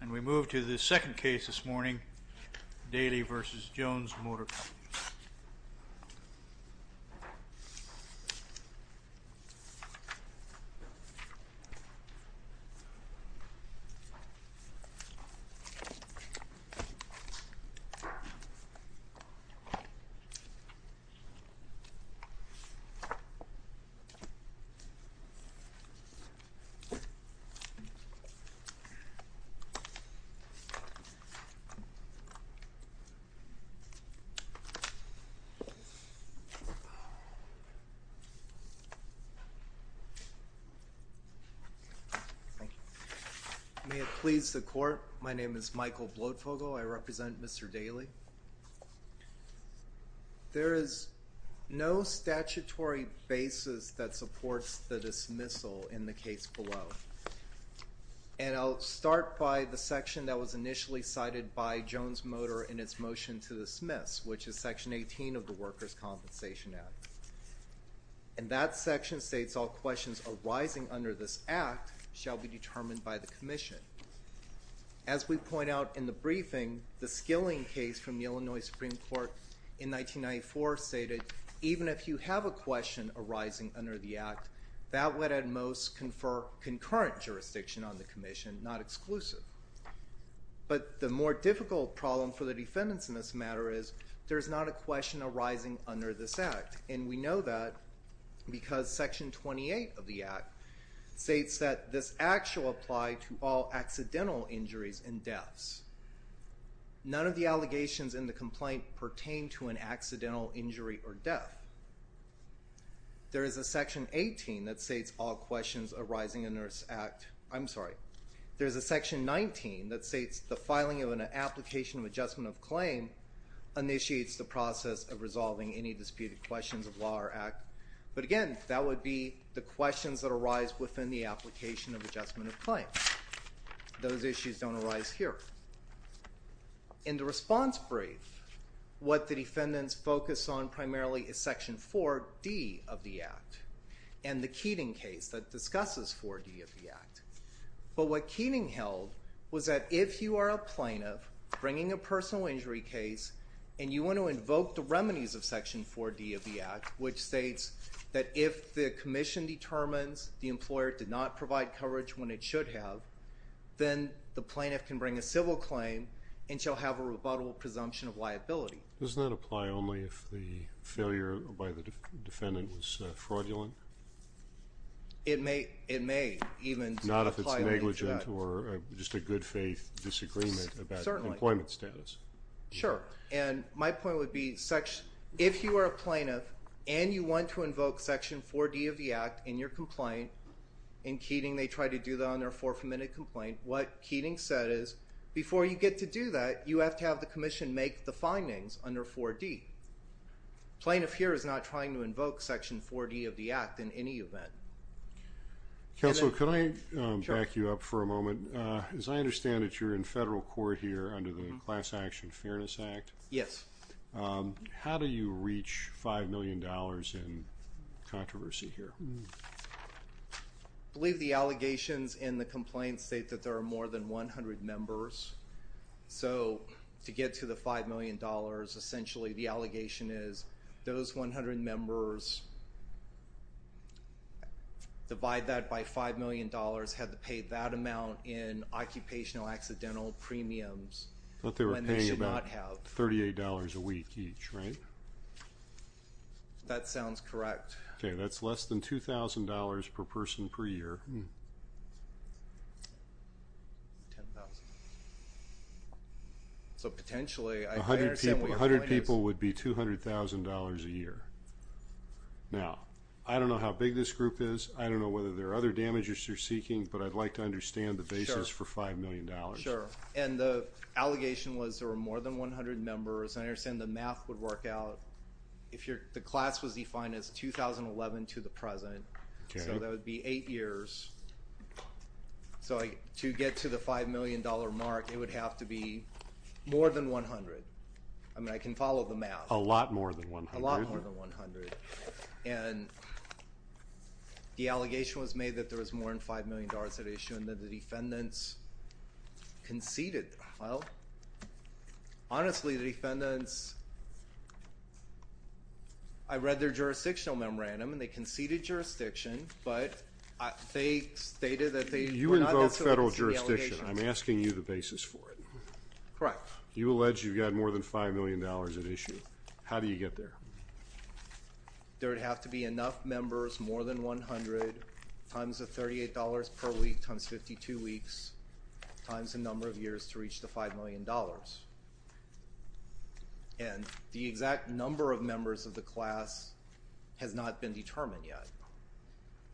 And we move to the second case this morning, Daley v. Jones Motor Company. May it please the court, my name is Michael Bloedfogle. I represent Mr. Daley. There is no statutory basis that supports the dismissal in the case below. And I'll start by the section that was initially cited by Jones Motor in its motion to dismiss, which is section 18 of the Workers' Compensation Act. And that section states all questions arising under this act shall be determined by the commission. As we point out in the briefing, the skilling case from the Illinois Supreme Court in 1994 stated even if you have a question arising under the act, that would at most confer concurrent jurisdiction on the commission, not exclusive. But the more difficult problem for the defendants in this matter is there is not a question arising under this act. And we know that because section 28 of the None of the allegations in the complaint pertain to an accidental injury or death. There is a section 18 that states all questions arising under this act. I'm sorry. There's a section 19 that states the filing of an application of adjustment of claim initiates the process of resolving any disputed questions of law or act. But again, that would be the questions that arise within the application of adjustment of claim. Those issues don't arise here. In the response brief, what the defendants focus on primarily is section 4D of the act and the Keating case that discusses 4D of the act. But what Keating held was that if you are a plaintiff bringing a personal injury case and you want to invoke the remedies of the employer did not provide coverage when it should have, then the plaintiff can bring a civil claim and shall have a rebuttable presumption of liability. Does that apply only if the failure by the defendant was fraudulent? It may even apply only to that. Not if it's negligent or just a good faith disagreement about employment status. Certainly. Sure. And my point would be if you are a plaintiff and you want to invoke section 4D of the act in your complaint, in Keating they try to do that on their 4th Amendment complaint, what Keating said is before you get to do that, you have to have the commission make the findings under 4D. Plaintiff here is not trying to invoke section 4D of the act in any event. Counselor, can I back you up for a moment? As I understand it, you're in federal court here under the Class Action Fairness Act? Yes. How do you reach $5 million in controversy here? I believe the allegations in the complaint state that there are more than 100 members. So to get to the $5 million, essentially the allegation is those 100 members divide that by $5 million, have to pay that amount in occupational accidental premiums when they should not have. They were paying about $38 a week each, right? That sounds correct. Okay, that's less than $2,000 per person per year. $10,000. So potentially, I understand what your point is. 100 people would be $200,000 a year. Now, I don't know how big this group is. I don't know whether there are other damages you're seeking, but I'd like to understand the basis for $5 million. Sure, and the allegation was there were more than 100 members. I understand the math would work out, if the class was defined as 2011 to the present, so that would be eight years. So to get to the $5 million mark, it would have to be more than 100. I mean, I can follow the math. A lot more than 100. A lot more than 100, and the allegation was made that there was more than $5 million at issue, and that the defendants conceded. Well, honestly, the defendants, I read their jurisdictional memorandum, and they conceded jurisdiction, but they stated that they were not necessarily conceding the allegations. You invoke federal jurisdiction. I'm asking you the basis for it. Correct. You allege you've got more than $5 million at issue. How do you get there? There would have to be enough members, more than 100, times the $38 per week, times 52 weeks, times the number of years to reach the $5 million, and the exact number of members of the class has not been determined yet,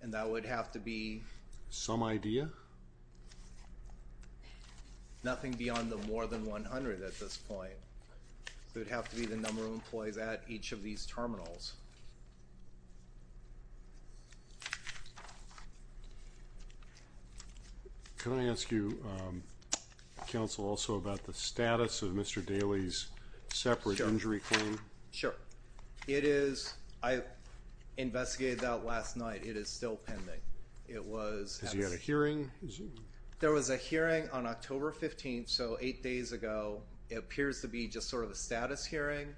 and that would have to be... Some idea? Nothing beyond the more than 100 at this point. It would have to be the number of employees at each of these terminals. Can I ask you, counsel, also about the status of Mr. Daley's separate injury claim? Sure. I investigated that last night. It is still pending. It was... Has he had a hearing? There was a hearing on October 15th, so eight days ago. It appears to be just sort of a status hearing,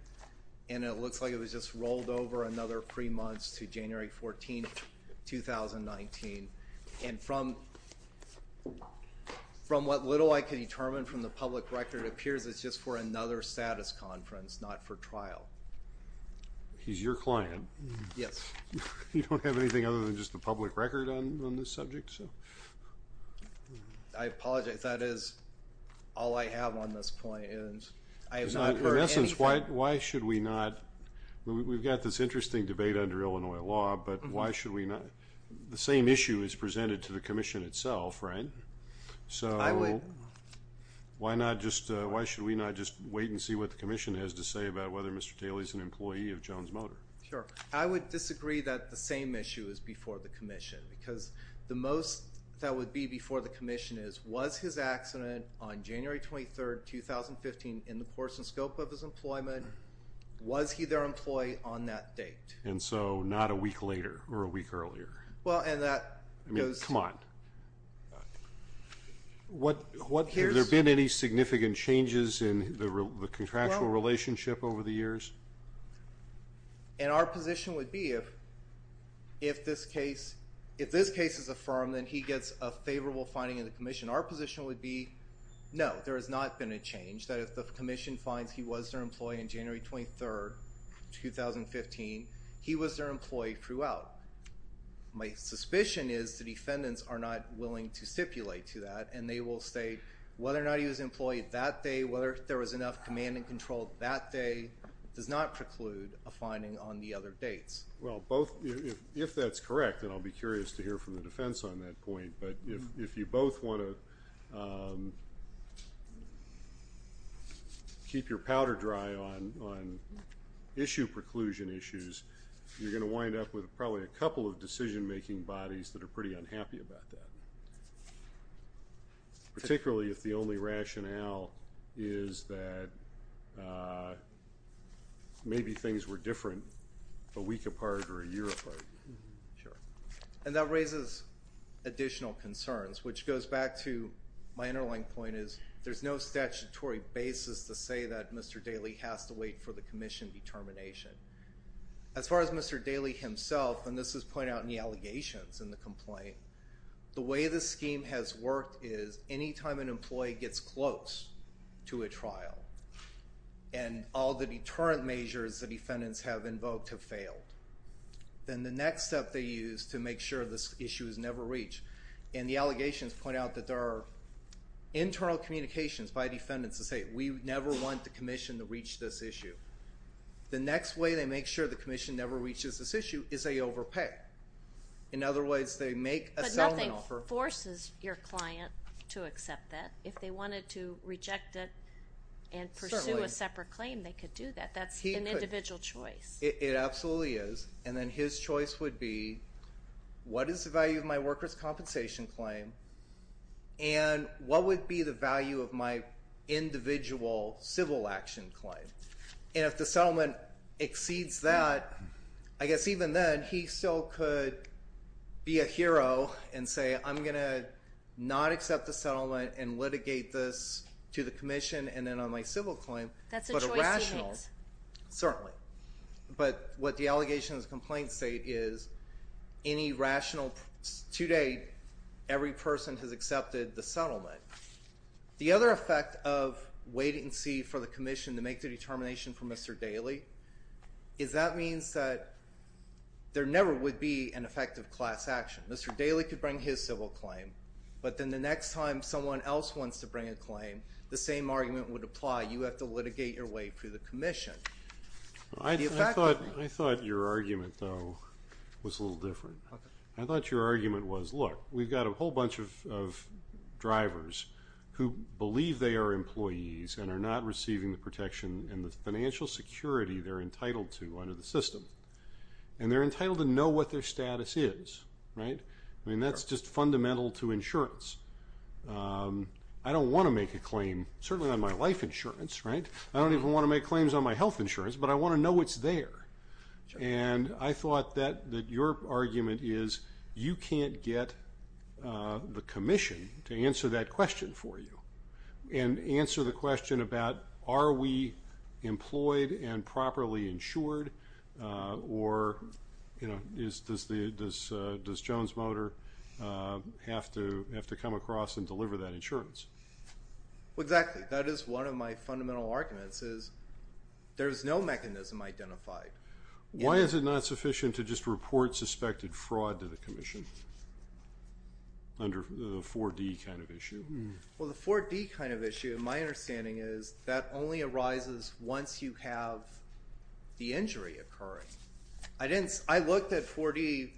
and it looks like it was just rolled over another three months to January 14th, 2019, and from what little I can determine from the public record, it appears it's just for another status conference, not for trial. He's your client. Yes. You don't have anything other than just the public record on this subject? I apologize. That is all I have on this point, and I have not heard anything... In essence, why should we not... We've got this interesting debate under Illinois law, but why should we not... The same issue is presented to the Commission itself, right? So why not just... Why should we not just wait and see what the Commission has to say about whether Mr. Daley's an employee of Jones Motor? Sure. I would disagree that the same issue is before the Commission, because the most that would be before the Commission is, was his accident on January 23rd, 2015, in the course and scope of his employment? Was he their employee on that date? And so not a week later or a week earlier? Well, and that... I mean, come on. What... Have there been any significant changes in the contractual relationship over the years? And our position would be, if this case is affirmed, then he gets a favorable finding in the Commission. Our position would be, no, there has not been a change, that if the Commission finds he was their employee on January 23rd, 2015, he was their employee throughout. My suspicion is the defendants are not willing to stipulate to that, and they will state whether or not he was an employee that day, whether there was enough command and control that day does not preclude a finding on the other dates. Well, both... If that's correct, then I'll be curious to hear from the defense on that point, but if you both want to keep your powder dry on issue preclusion issues, you're going to wind up with probably a couple of decision-making bodies that are pretty unhappy about that, particularly if the only rationale is that maybe things were different a week apart or a year apart. Sure. And that raises additional concerns, which goes back to my underlying point is there's no statutory basis to say that Mr. Daley has to wait for the Commission determination. As far as Mr. Daley himself, and this is pointed out in the allegations in the complaint, the way the scheme has worked is any time an employee gets close to a trial and all the deterrent measures the defendants have invoked have failed, then the next step they use to make sure this issue is never reached, and the allegations point out that there are internal communications by defendants to say, we never want the Commission to reach this issue. The next way they make sure the Commission never reaches this issue is they overpay. In other words, they make a settlement offer. But nothing forces your client to accept that. If they wanted to reject it and pursue a separate claim, they could do that. That's an individual choice. It absolutely is. And then his choice would be, what is the value of my workers' compensation claim, and what would be the value of my individual civil action claim? And if the settlement exceeds that, I guess even then, he still could be a hero and say, I'm going to not accept the settlement and litigate this to the Commission and then on my civil claim. That's a choice he makes. Certainly. But what the allegations in the complaint state is any rational, to date, every person has accepted the settlement. The other effect of waiting to see for the Commission to make the determination for Mr. Daley is that means that there never would be an effective class action. Mr. Daley could bring his civil claim, but then the next time someone else wants to bring a claim, the same argument would apply. You have to litigate your way through the Commission. I thought your argument, though, was a little different. I thought your argument was, look, we've got a whole bunch of drivers. Who believe they are employees and are not receiving the protection and the financial security they're entitled to under the system. And they're entitled to know what their status is, right? I mean, that's just fundamental to insurance. I don't want to make a claim, certainly not on my life insurance, right? I don't even want to make claims on my health insurance, but I want to know what's there. And I thought that your argument is you can't get the Commission to answer that question for you and answer the question about are we employed and properly insured or, you know, does Jones Motor have to come across and deliver that insurance? Well, exactly. That is one of my fundamental arguments is there's no mechanism identified. Why is it not sufficient to just report suspected fraud to the Commission under the 4D kind of issue? Well, the 4D kind of issue, my understanding is that only arises once you have the injury occurring. I looked at 4D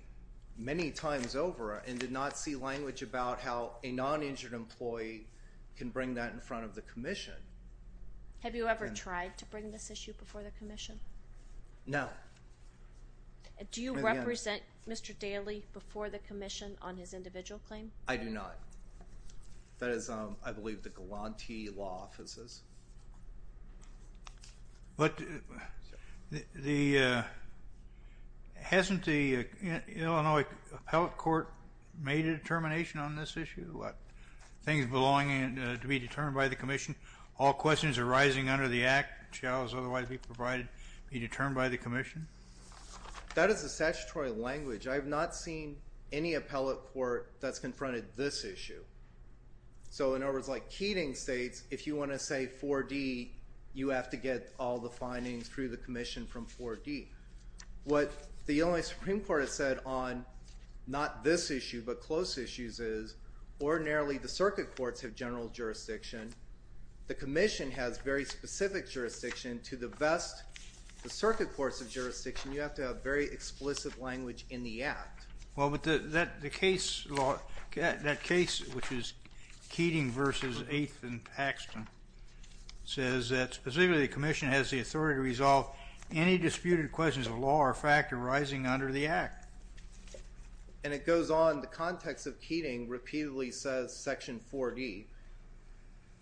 many times over and did not see language about how a non-injured employee can bring that in front of the Commission. Have you ever tried to bring this issue before the Commission? No. Do you represent Mr. Daley before the Commission on his individual claim? I do not. That is, I believe, the Galanti Law Offices. But hasn't the Illinois Appellate Court made a determination on this issue about things belonging to be determined by the Commission? All questions arising under the Act shall, as otherwise be provided, be determined by the Commission? That is the statutory language. I have not seen any appellate court that's confronted this issue. So in other words, like Keating states, if you want to say 4D, you have to get all the findings through the Commission from 4D. What the Illinois Supreme Court has said on not this issue but close issues is ordinarily the circuit courts have general jurisdiction. The Commission has very specific jurisdiction. To divest the circuit courts of jurisdiction, you have to have very explicit language in the Act. Well, but that case, which is Keating v. 8th and Paxton, says that specifically the Commission has the authority to resolve any disputed questions of law or fact arising under the Act. And it goes on, the context of Keating repeatedly says Section 4D.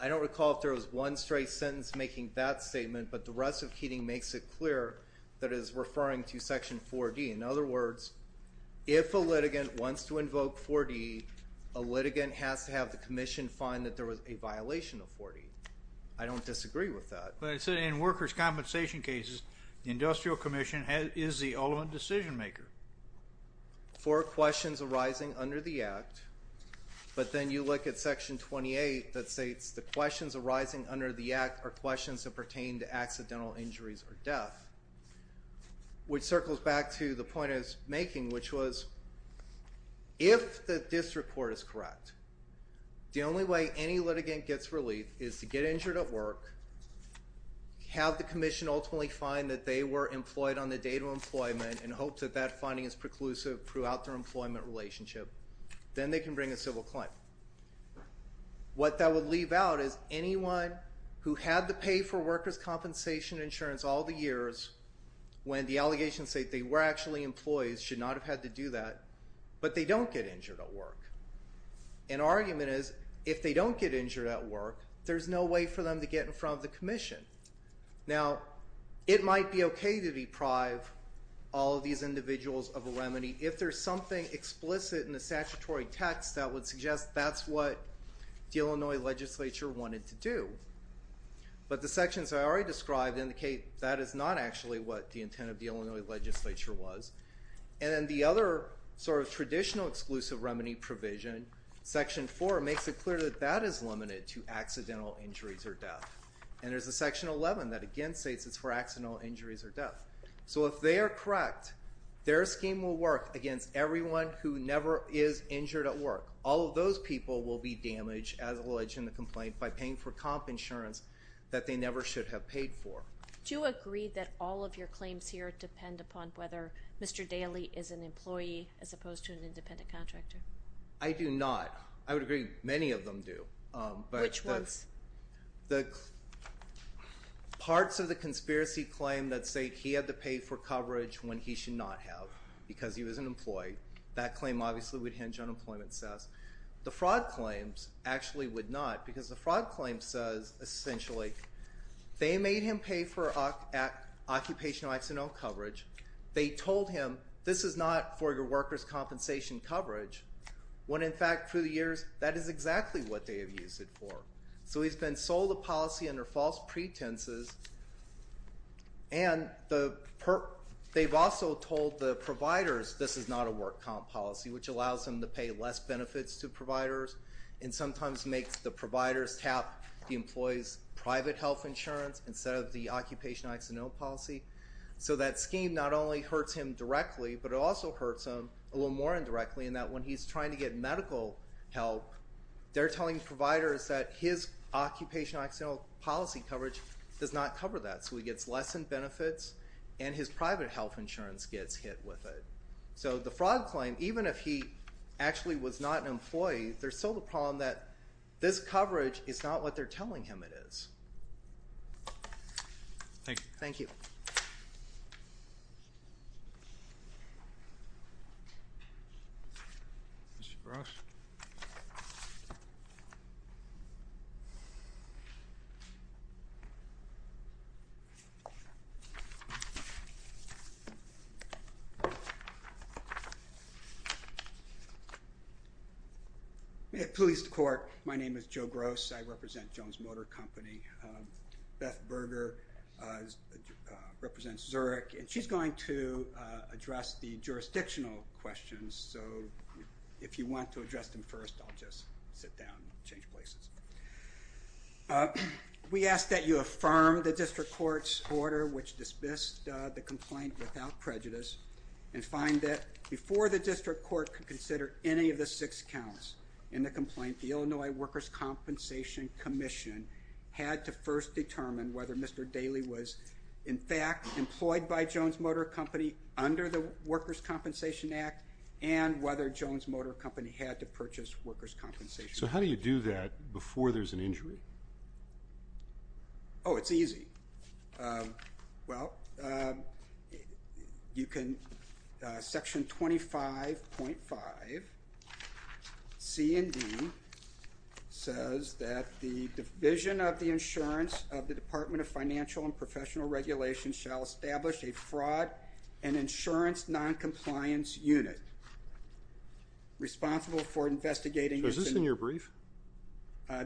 I don't recall if there was one straight sentence making that statement, but the rest of Keating makes it clear that it is referring to Section 4D. In other words, if a litigant wants to invoke 4D, a litigant has to have the Commission find that there was a violation of 4D. I don't disagree with that. But it said in workers' compensation cases, the Industrial Commission is the ultimate decision maker. For questions arising under the Act, but then you look at Section 28 that states the questions arising under the Act are questions that pertain to accidental injuries or death, which circles back to the point I was making, which was if the district court is correct, the only way any litigant gets relief is to get injured at work, have the Commission ultimately find that they were employed on the date of employment and hope that that finding is preclusive throughout their employment relationship. Then they can bring a civil claim. What that would leave out is anyone who had to pay for workers' compensation insurance all the years when the allegations say they were actually employees should not have had to do that, but they don't get injured at work. An argument is if they don't get injured at work, there's no way for them to get in front of the Commission. Now, it might be okay to deprive all of these individuals of a remedy if there's something explicit in the statutory text that would suggest that's what the Illinois legislature wanted to do. But the sections I already described indicate that is not actually what the intent of the Illinois legislature was. And then the other sort of traditional exclusive remedy provision, Section 4, makes it clear that that is limited to accidental injuries or death. And there's a Section 11 that, again, states it's for accidental injuries or death. So if they are correct, their scheme will work against everyone who never is injured at work. All of those people will be damaged as alleged in the complaint by paying for comp insurance that they never should have paid for. Do you agree that all of your claims here depend upon whether Mr. Daley is an employee as opposed to an independent contractor? I do not. I would agree many of them do. Which ones? The parts of the conspiracy claim that say he had to pay for coverage when he should not have because he was an employee. That claim obviously would hinge on employment. The fraud claims actually would not because the fraud claim says, essentially, they made him pay for occupational accidental coverage. They told him this is not for your workers' compensation coverage when, in fact, through the years, that is exactly what they have used it for. So he's been sold a policy under false pretenses, and they've also told the providers this is not a work comp policy, which allows them to pay less benefits to providers and sometimes makes the providers tap the employee's private health insurance instead of the occupational accidental policy. So that scheme not only hurts him directly, but it also hurts him a little more indirectly in that when he's trying to get medical help, they're telling providers that his occupational accidental policy coverage does not cover that, so he gets less in benefits and his private health insurance gets hit with it. So the fraud claim, even if he actually was not an employee, there's still the problem that this coverage is not what they're telling him it is. Thank you. Thank you. Mr. Gross? At police court, my name is Joe Gross. I represent Jones Motor Company. Beth Berger represents Zurich, and she's going to address the jurisdictional questions. So if you want to address them first, I'll just sit down and change places. We ask that you affirm the district court's order, which dismissed the complaint without prejudice, and find that before the district court could consider any of the six counts in the complaint, the Illinois Workers' Compensation Commission had to first determine whether Mr. Daley was, in fact, employed by Jones Motor Company under the Workers' Compensation Act and whether Jones Motor Company had to purchase workers' compensation. So how do you do that before there's an injury? Oh, it's easy. Well, you can section 25.5 C and D says that the division of the insurance of the Department of Financial and Professional Regulations shall establish a fraud and insurance noncompliance unit responsible for investigating. Was this in your brief?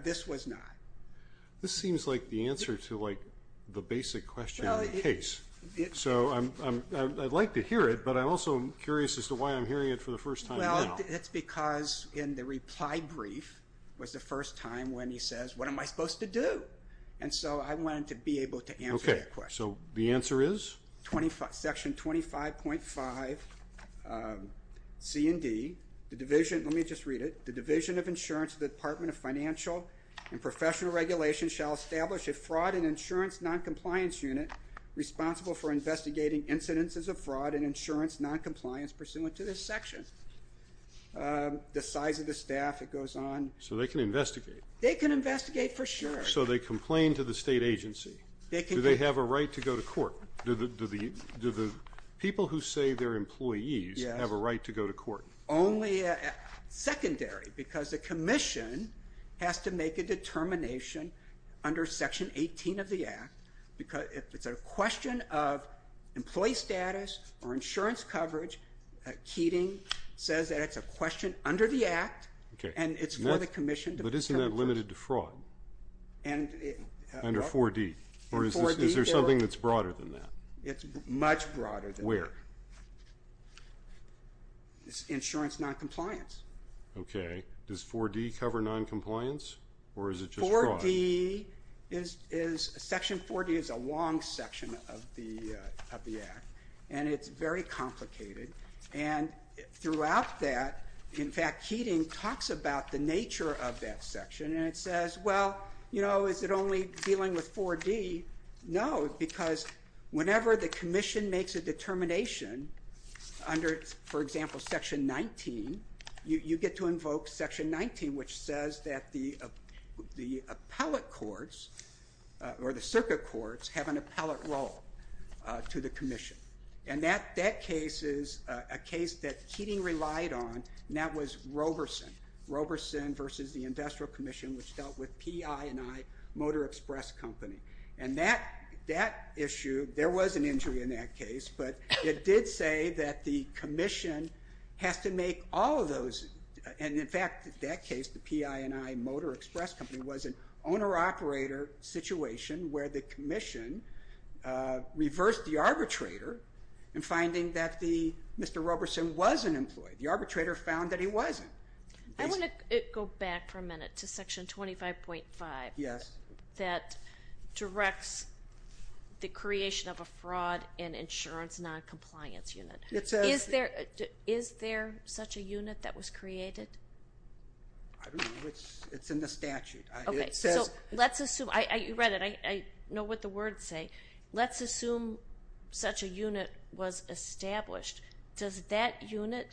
This was not. This seems like the answer to, like, the basic question of the case. So I'd like to hear it, but I'm also curious as to why I'm hearing it for the first time now. Well, it's because in the reply brief was the first time when he says, what am I supposed to do? And so I wanted to be able to answer that question. Okay. So the answer is? Section 25.5 C and D, the division, let me just read it, the division of insurance of the Department of Financial and Professional Regulations shall establish a fraud and insurance noncompliance unit responsible for investigating incidences of fraud and insurance noncompliance pursuant to this section. The size of the staff, it goes on. So they can investigate. They can investigate for sure. So they complain to the state agency. Do they have a right to go to court? Do the people who say they're employees have a right to go to court? Only secondary, because the commission has to make a determination under Section 18 of the Act. It's a question of employee status or insurance coverage. Keating says that it's a question under the Act, and it's for the commission to determine. But isn't that limited to fraud under 4D? Or is there something that's broader than that? It's much broader than that. Where? It's insurance noncompliance. Okay. Does 4D cover noncompliance, or is it just fraud? Section 4D is a long section of the Act, and it's very complicated. And throughout that, in fact, Keating talks about the nature of that section, and it says, well, you know, is it only dealing with 4D? No, because whenever the commission makes a determination under, for example, Section 19, you get to invoke Section 19, which says that the appellate courts or the circuit courts have an appellate role to the commission. And that case is a case that Keating relied on, and that was Roberson. Roberson versus the Industrial Commission, which dealt with PI&I Motor Express Company. And that issue, there was an injury in that case, but it did say that the commission has to make all of those. And, in fact, in that case, the PI&I Motor Express Company was an owner-operator situation where the commission reversed the arbitrator in finding that Mr. Roberson wasn't employed. The arbitrator found that he wasn't. I want to go back for a minute to Section 25.5. Yes. That directs the creation of a fraud and insurance noncompliance unit. It says... Is there such a unit that was created? I don't know. It's in the statute. Okay, so let's assume, you read it, I know what the words say. Let's assume such a unit was established. Does that unit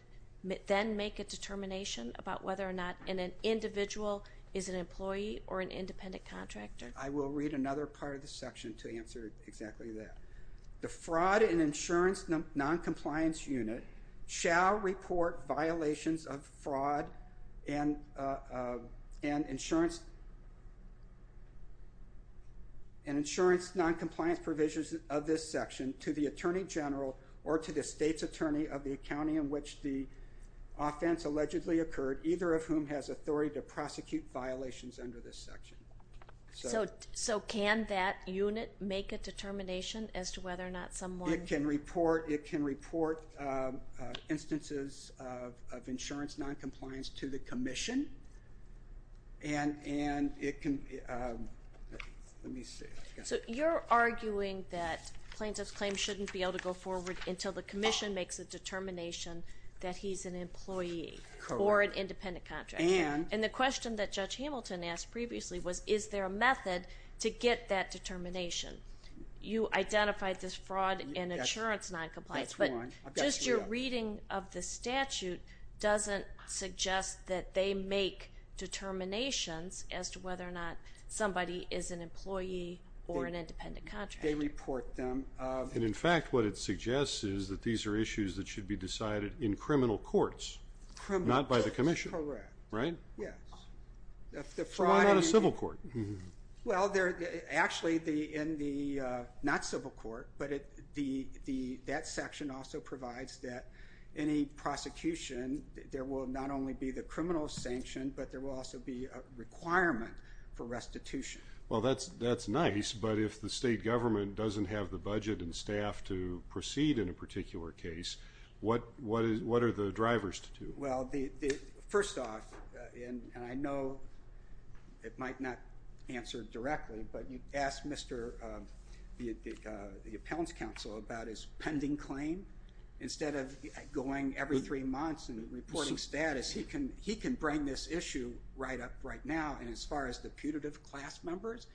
then make a determination about whether or not an individual is an employee or an independent contractor? I will read another part of the section to answer exactly that. The fraud and insurance noncompliance unit shall report violations of fraud and insurance noncompliance provisions of this section to the Attorney General or to the State's Attorney of the county in which the offense allegedly occurred, either of whom has authority to prosecute violations under this section. So can that unit make a determination as to whether or not someone... It can report instances of insurance noncompliance to the commission. And it can... So you're arguing that plaintiff's claim shouldn't be able to go forward until the commission makes a determination that he's an employee or an independent contractor. And the question that Judge Hamilton asked previously was, is there a method to get that determination? You identified this fraud and insurance noncompliance, but just your reading of the statute doesn't suggest that they make determinations as to whether or not somebody is an employee or an independent contractor. They report them. And, in fact, what it suggests is that these are issues that should be decided in criminal courts, not by the commission. Correct. Right? Yes. Why not a civil court? Well, actually, not civil court, but that section also provides that any prosecution, there will not only be the criminal sanction, but there will also be a requirement for restitution. Well, that's nice. But if the state government doesn't have the budget and staff to proceed in a particular case, what are the drivers to do? Well, first off, and I know it might not answer directly, but you asked the appellant's counsel about his pending claim. Instead of going every three months and reporting status, he can bring this issue right up right now. And as far as the putative class members,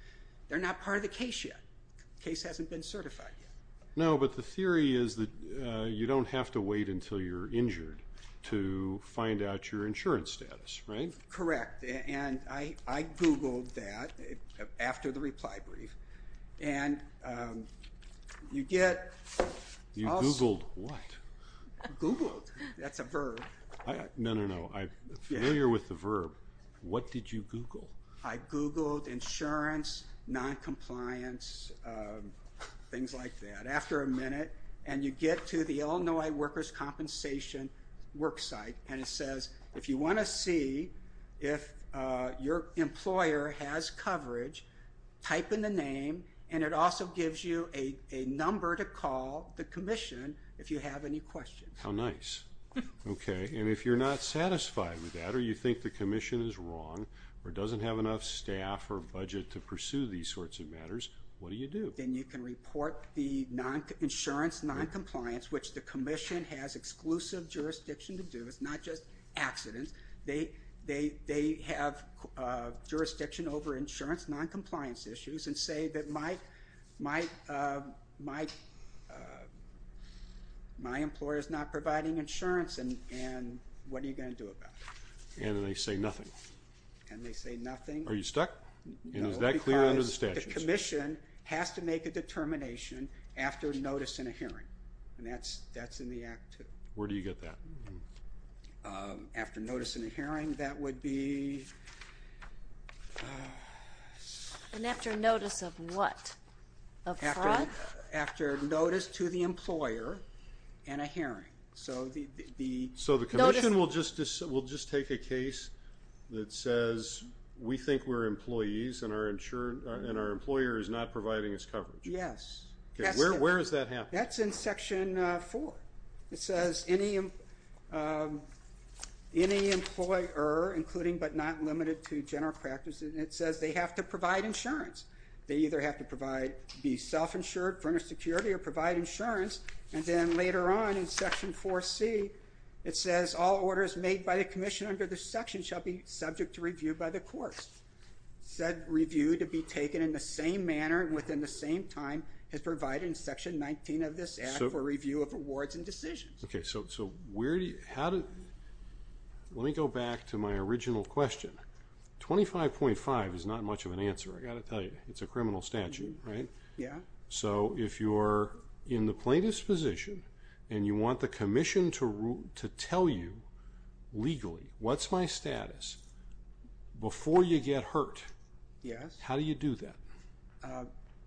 they're not part of the case yet. The case hasn't been certified yet. No, but the theory is that you don't have to wait until you're injured to find out your insurance status. Right? Correct. And I Googled that after the reply brief. And you get also You Googled what? Googled. That's a verb. No, no, no. I'm familiar with the verb. What did you Google? I Googled insurance, noncompliance, things like that. After a minute, and you get to the Illinois Workers' Compensation worksite, and it says if you want to see if your employer has coverage, type in the name, and it also gives you a number to call the commission if you have any questions. How nice. Okay. And if you're not satisfied with that or you think the commission is wrong or doesn't have enough staff or budget to pursue these sorts of matters, what do you do? Then you can report the insurance noncompliance, which the commission has exclusive jurisdiction to do. It's not just accidents. They have jurisdiction over insurance noncompliance issues and say that my employer is not providing insurance, and what are you going to do about it? And they say nothing. And they say nothing. Are you stuck? No. And is that clear under the statutes? No, because the commission has to make a determination after notice in a hearing, and that's in the Act, too. Where do you get that? After notice in a hearing, that would be. And after notice of what? Of fraud? After notice to the employer in a hearing. So the commission will just take a case that says we think we're employees and our employer is not providing us coverage. Yes. Where does that happen? That's in Section 4. It says any employer, including but not limited to general practices, and it says they have to provide insurance. They either have to be self-insured for inner security or provide insurance, and then later on in Section 4C, it says all orders made by the commission under this section shall be subject to review by the courts. Said review to be taken in the same manner and within the same time as provided in Section 19 of this Act for review of awards and decisions. Okay, so where do you – let me go back to my original question. 25.5 is not much of an answer, I've got to tell you. It's a criminal statute, right? Yeah. So if you're in the plaintiff's position and you want the commission to tell you legally what's my status before you get hurt, how do you do that?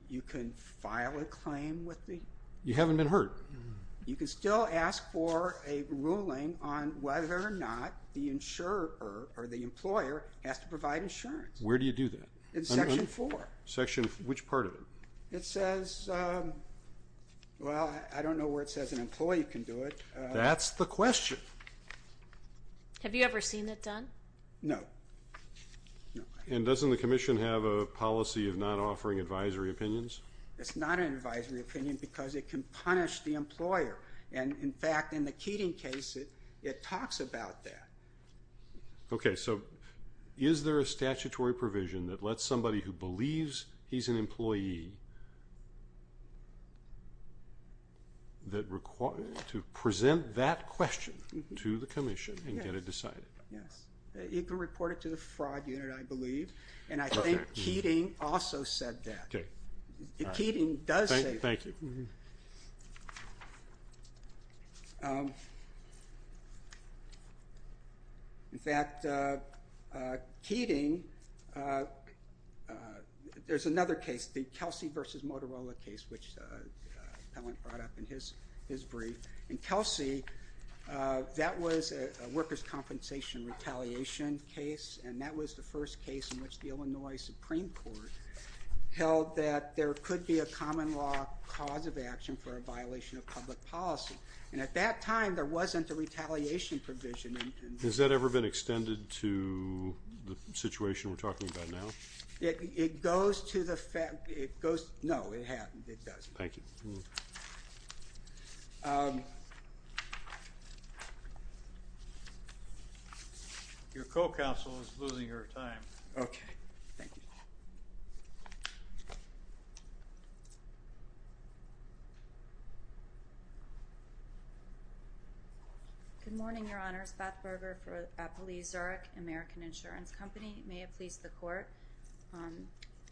You can file a claim with the – You haven't been hurt. You can still ask for a ruling on whether or not the insurer or the employer has to provide insurance. Where do you do that? In Section 4. Which part of it? It says – well, I don't know where it says an employee can do it. That's the question. Have you ever seen it done? No. And doesn't the commission have a policy of not offering advisory opinions? It's not an advisory opinion because it can punish the employer. In fact, in the Keating case, it talks about that. Okay, so is there a statutory provision that lets somebody who believes he's an employee to present that question to the commission and get it decided? Yes. You can report it to the fraud unit, I believe, and I think Keating also said that. Okay. Keating does say that. Thank you. In fact, Keating – there's another case, the Kelsey v. Motorola case, which Pellant brought up in his brief. In Kelsey, that was a workers' compensation retaliation case, and that was the first case in which the Illinois Supreme Court held that there could be a common law cause of action for a violation of public policy. And at that time, there wasn't a retaliation provision. Has that ever been extended to the situation we're talking about now? It goes to the – no, it hasn't. It doesn't. Thank you. Your co-counsel is losing her time. Okay. Thank you. Good morning, Your Honors. Beth Berger for Applebee's Zurich American Insurance Company. May it please the Court.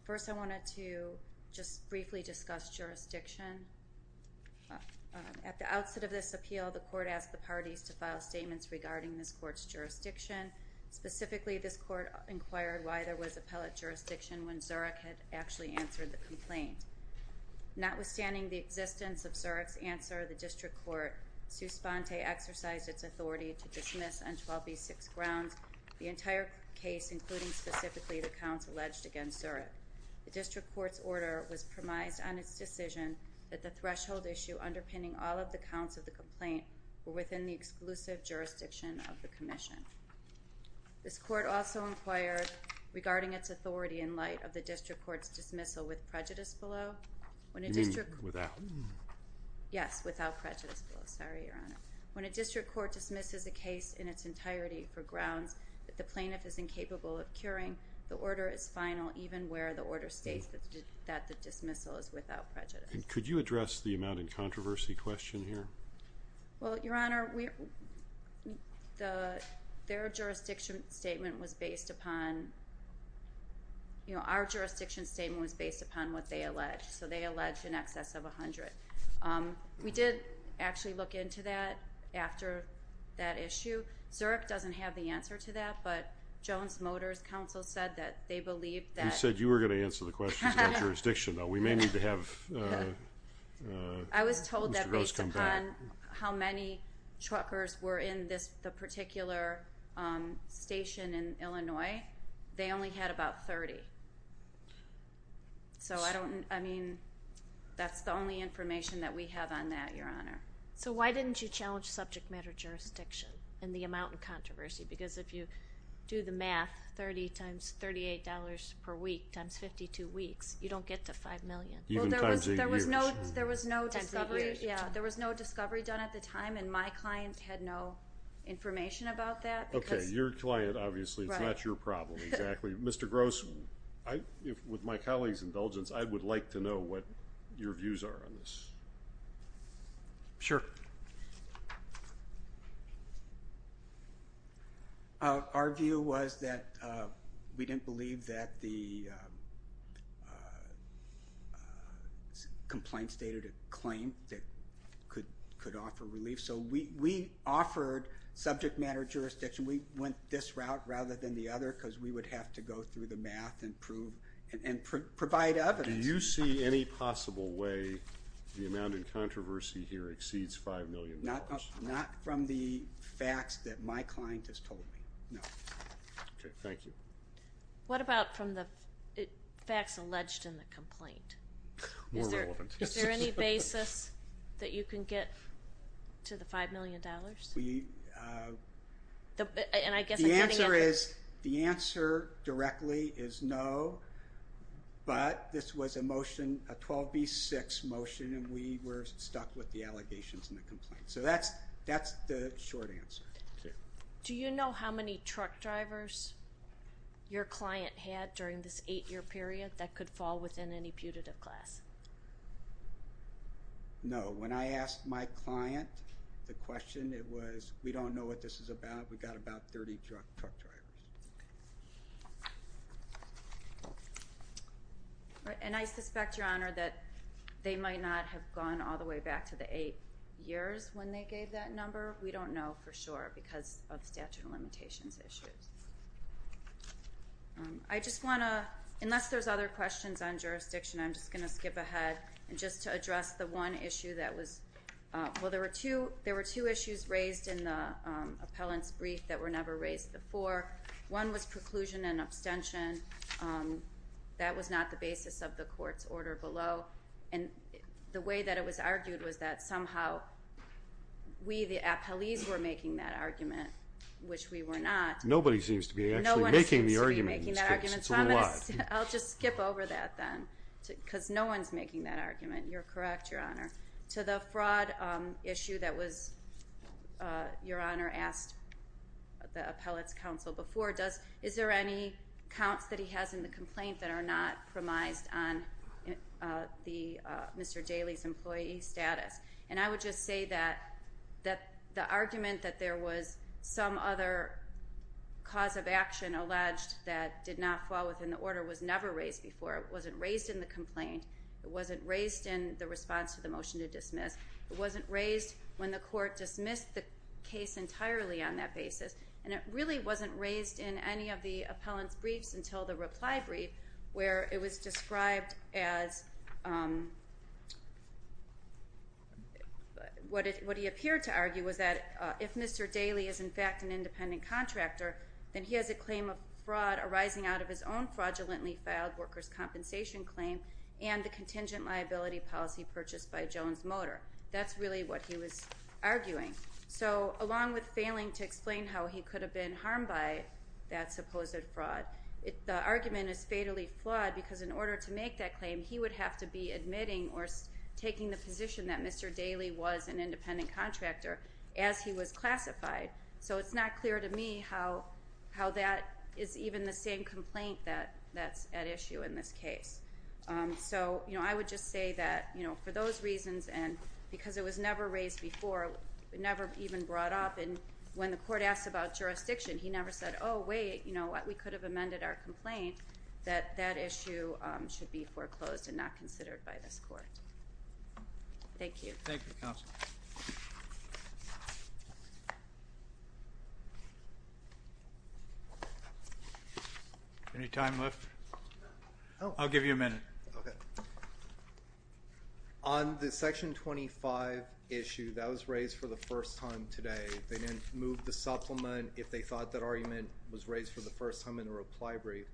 First, I wanted to just briefly discuss jurisdiction. At the outset of this appeal, the Court asked the parties to file statements regarding this Court's jurisdiction. Specifically, this Court inquired why there was appellate jurisdiction when Zurich had actually answered the complaint. Notwithstanding the existence of Zurich's answer, the district court, Suspente, exercised its authority to dismiss on 12B6 grounds the entire case, including specifically the counts alleged against Zurich. The district court's order was premised on its decision that the threshold issue underpinning all of the counts of the complaint were within the exclusive jurisdiction of the commission. This court also inquired regarding its authority in light of the district court's dismissal with prejudice below. You mean without? Yes, without prejudice below. Sorry, Your Honor. When a district court dismisses a case in its entirety for grounds that the plaintiff is incapable of curing, the order is final even where the order states that the dismissal is without prejudice. Could you address the amount in controversy question here? Well, Your Honor, their jurisdiction statement was based upon our jurisdiction statement was based upon what they alleged, so they alleged in excess of 100. We did actually look into that after that issue. Zurich doesn't have the answer to that, but Jones Motors Council said that they believe that. You said you were going to answer the questions about jurisdiction, though. We may need to have Mr. Rose come back. I was told that based upon how many truckers were in the particular station in Illinois, they only had about 30. So I mean that's the only information that we have on that, Your Honor. So why didn't you challenge subject matter jurisdiction and the amount in controversy? Because if you do the math, 30 times $38 per week times 52 weeks, you don't get to $5 million. There was no discovery done at the time, and my client had no information about that. Okay, your client, obviously. It's not your problem, exactly. Mr. Gross, with my colleague's indulgence, I would like to know what your views are on this. Sure. Our view was that we didn't believe that the complaint stated a claim that could offer relief. So we offered subject matter jurisdiction. We went this route rather than the other because we would have to go through the math and provide evidence. Do you see any possible way the amount in controversy here exceeds $5 million? Not from the facts that my client has told me, no. Okay, thank you. What about from the facts alleged in the complaint? More relevant. Is there any basis that you can get to the $5 million? The answer directly is no, but this was a motion, a 12B6 motion, and we were stuck with the allegations in the complaint. So that's the short answer. Do you know how many truck drivers your client had during this eight-year period that could fall within any putative class? No. When I asked my client the question, it was, we don't know what this is about, we've got about 30 truck drivers. And I suspect, Your Honor, that they might not have gone all the way back to the eight years when they gave that number. We don't know for sure because of statute of limitations issues. I just want to, unless there's other questions on jurisdiction, I'm just going to skip ahead. And just to address the one issue that was, well, there were two issues raised in the appellant's brief that were never raised before. One was preclusion and abstention. That was not the basis of the court's order below. And the way that it was argued was that somehow we, the appellees, were making that argument, which we were not. Nobody seems to be actually making the argument in this case. It's a little odd. I'll just skip over that then because no one's making that argument. You're correct, Your Honor. To the fraud issue that was, Your Honor, asked the appellate's counsel before, is there any counts that he has in the complaint that are not premised on Mr. Daley's employee status? And I would just say that the argument that there was some other cause of the order was never raised before. It wasn't raised in the complaint. It wasn't raised in the response to the motion to dismiss. It wasn't raised when the court dismissed the case entirely on that basis. And it really wasn't raised in any of the appellant's briefs until the reply brief where it was described as what he appeared to argue was that if Mr. Daley is, in fact, an independent contractor, then he has a claim of fraud arising out of his own fraudulently filed workers' compensation claim and the contingent liability policy purchased by Jones Motor. That's really what he was arguing. So along with failing to explain how he could have been harmed by that supposed fraud, the argument is fatally flawed because in order to make that claim he would have to be admitting or taking the position that Mr. Daley was an independent contractor as he was classified. So it's not clear to me how that is even the same complaint that's at issue in this case. So I would just say that for those reasons and because it was never raised before, never even brought up. And when the court asked about jurisdiction, he never said, oh, wait, you know what, we could have amended our complaint, that that issue should be foreclosed and not considered by this court. Thank you. Thank you, Counsel. Any time left? I'll give you a minute. Okay. On the Section 25 issue, that was raised for the first time today. They didn't move the supplement if they thought that argument was raised for the first time in the reply brief.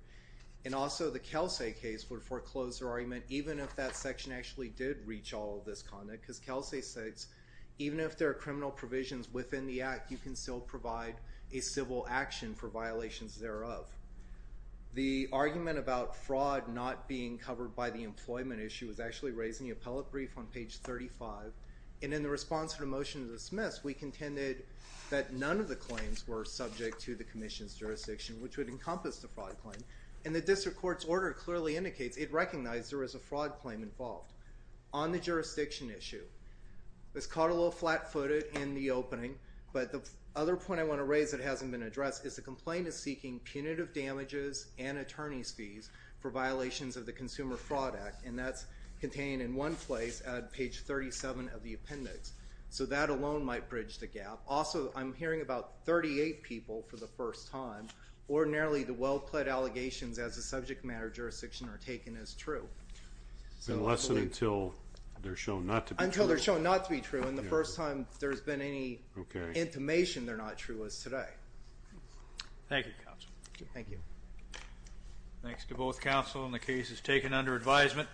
And also the Kelsay case would foreclose their argument even if that section actually did reach all of this conduct because Kelsay states even if there are criminal provisions within the act, you can still provide a civil action for violations thereof. The argument about fraud not being covered by the employment issue was actually raised in the appellate brief on page 35. And in the response to the motion to dismiss, we contended that none of the claims were subject to the commission's jurisdiction, which would encompass the fraud claim. And the district court's order clearly indicates it recognized there was a fraud on the jurisdiction issue. It was caught a little flat-footed in the opening, but the other point I want to raise that hasn't been addressed is the complaint is seeking punitive damages and attorney's fees for violations of the Consumer Fraud Act, and that's contained in one place on page 37 of the appendix. So that alone might bridge the gap. Also, I'm hearing about 38 people for the first time. Ordinarily the well-plaid allegations as a subject matter jurisdiction are taken as true. It's been less than until they're shown not to be true. Until they're shown not to be true and the first time there's been any intimation they're not true as today. Thank you, counsel. Thank you. Thanks to both counsel and the cases taken under advisement.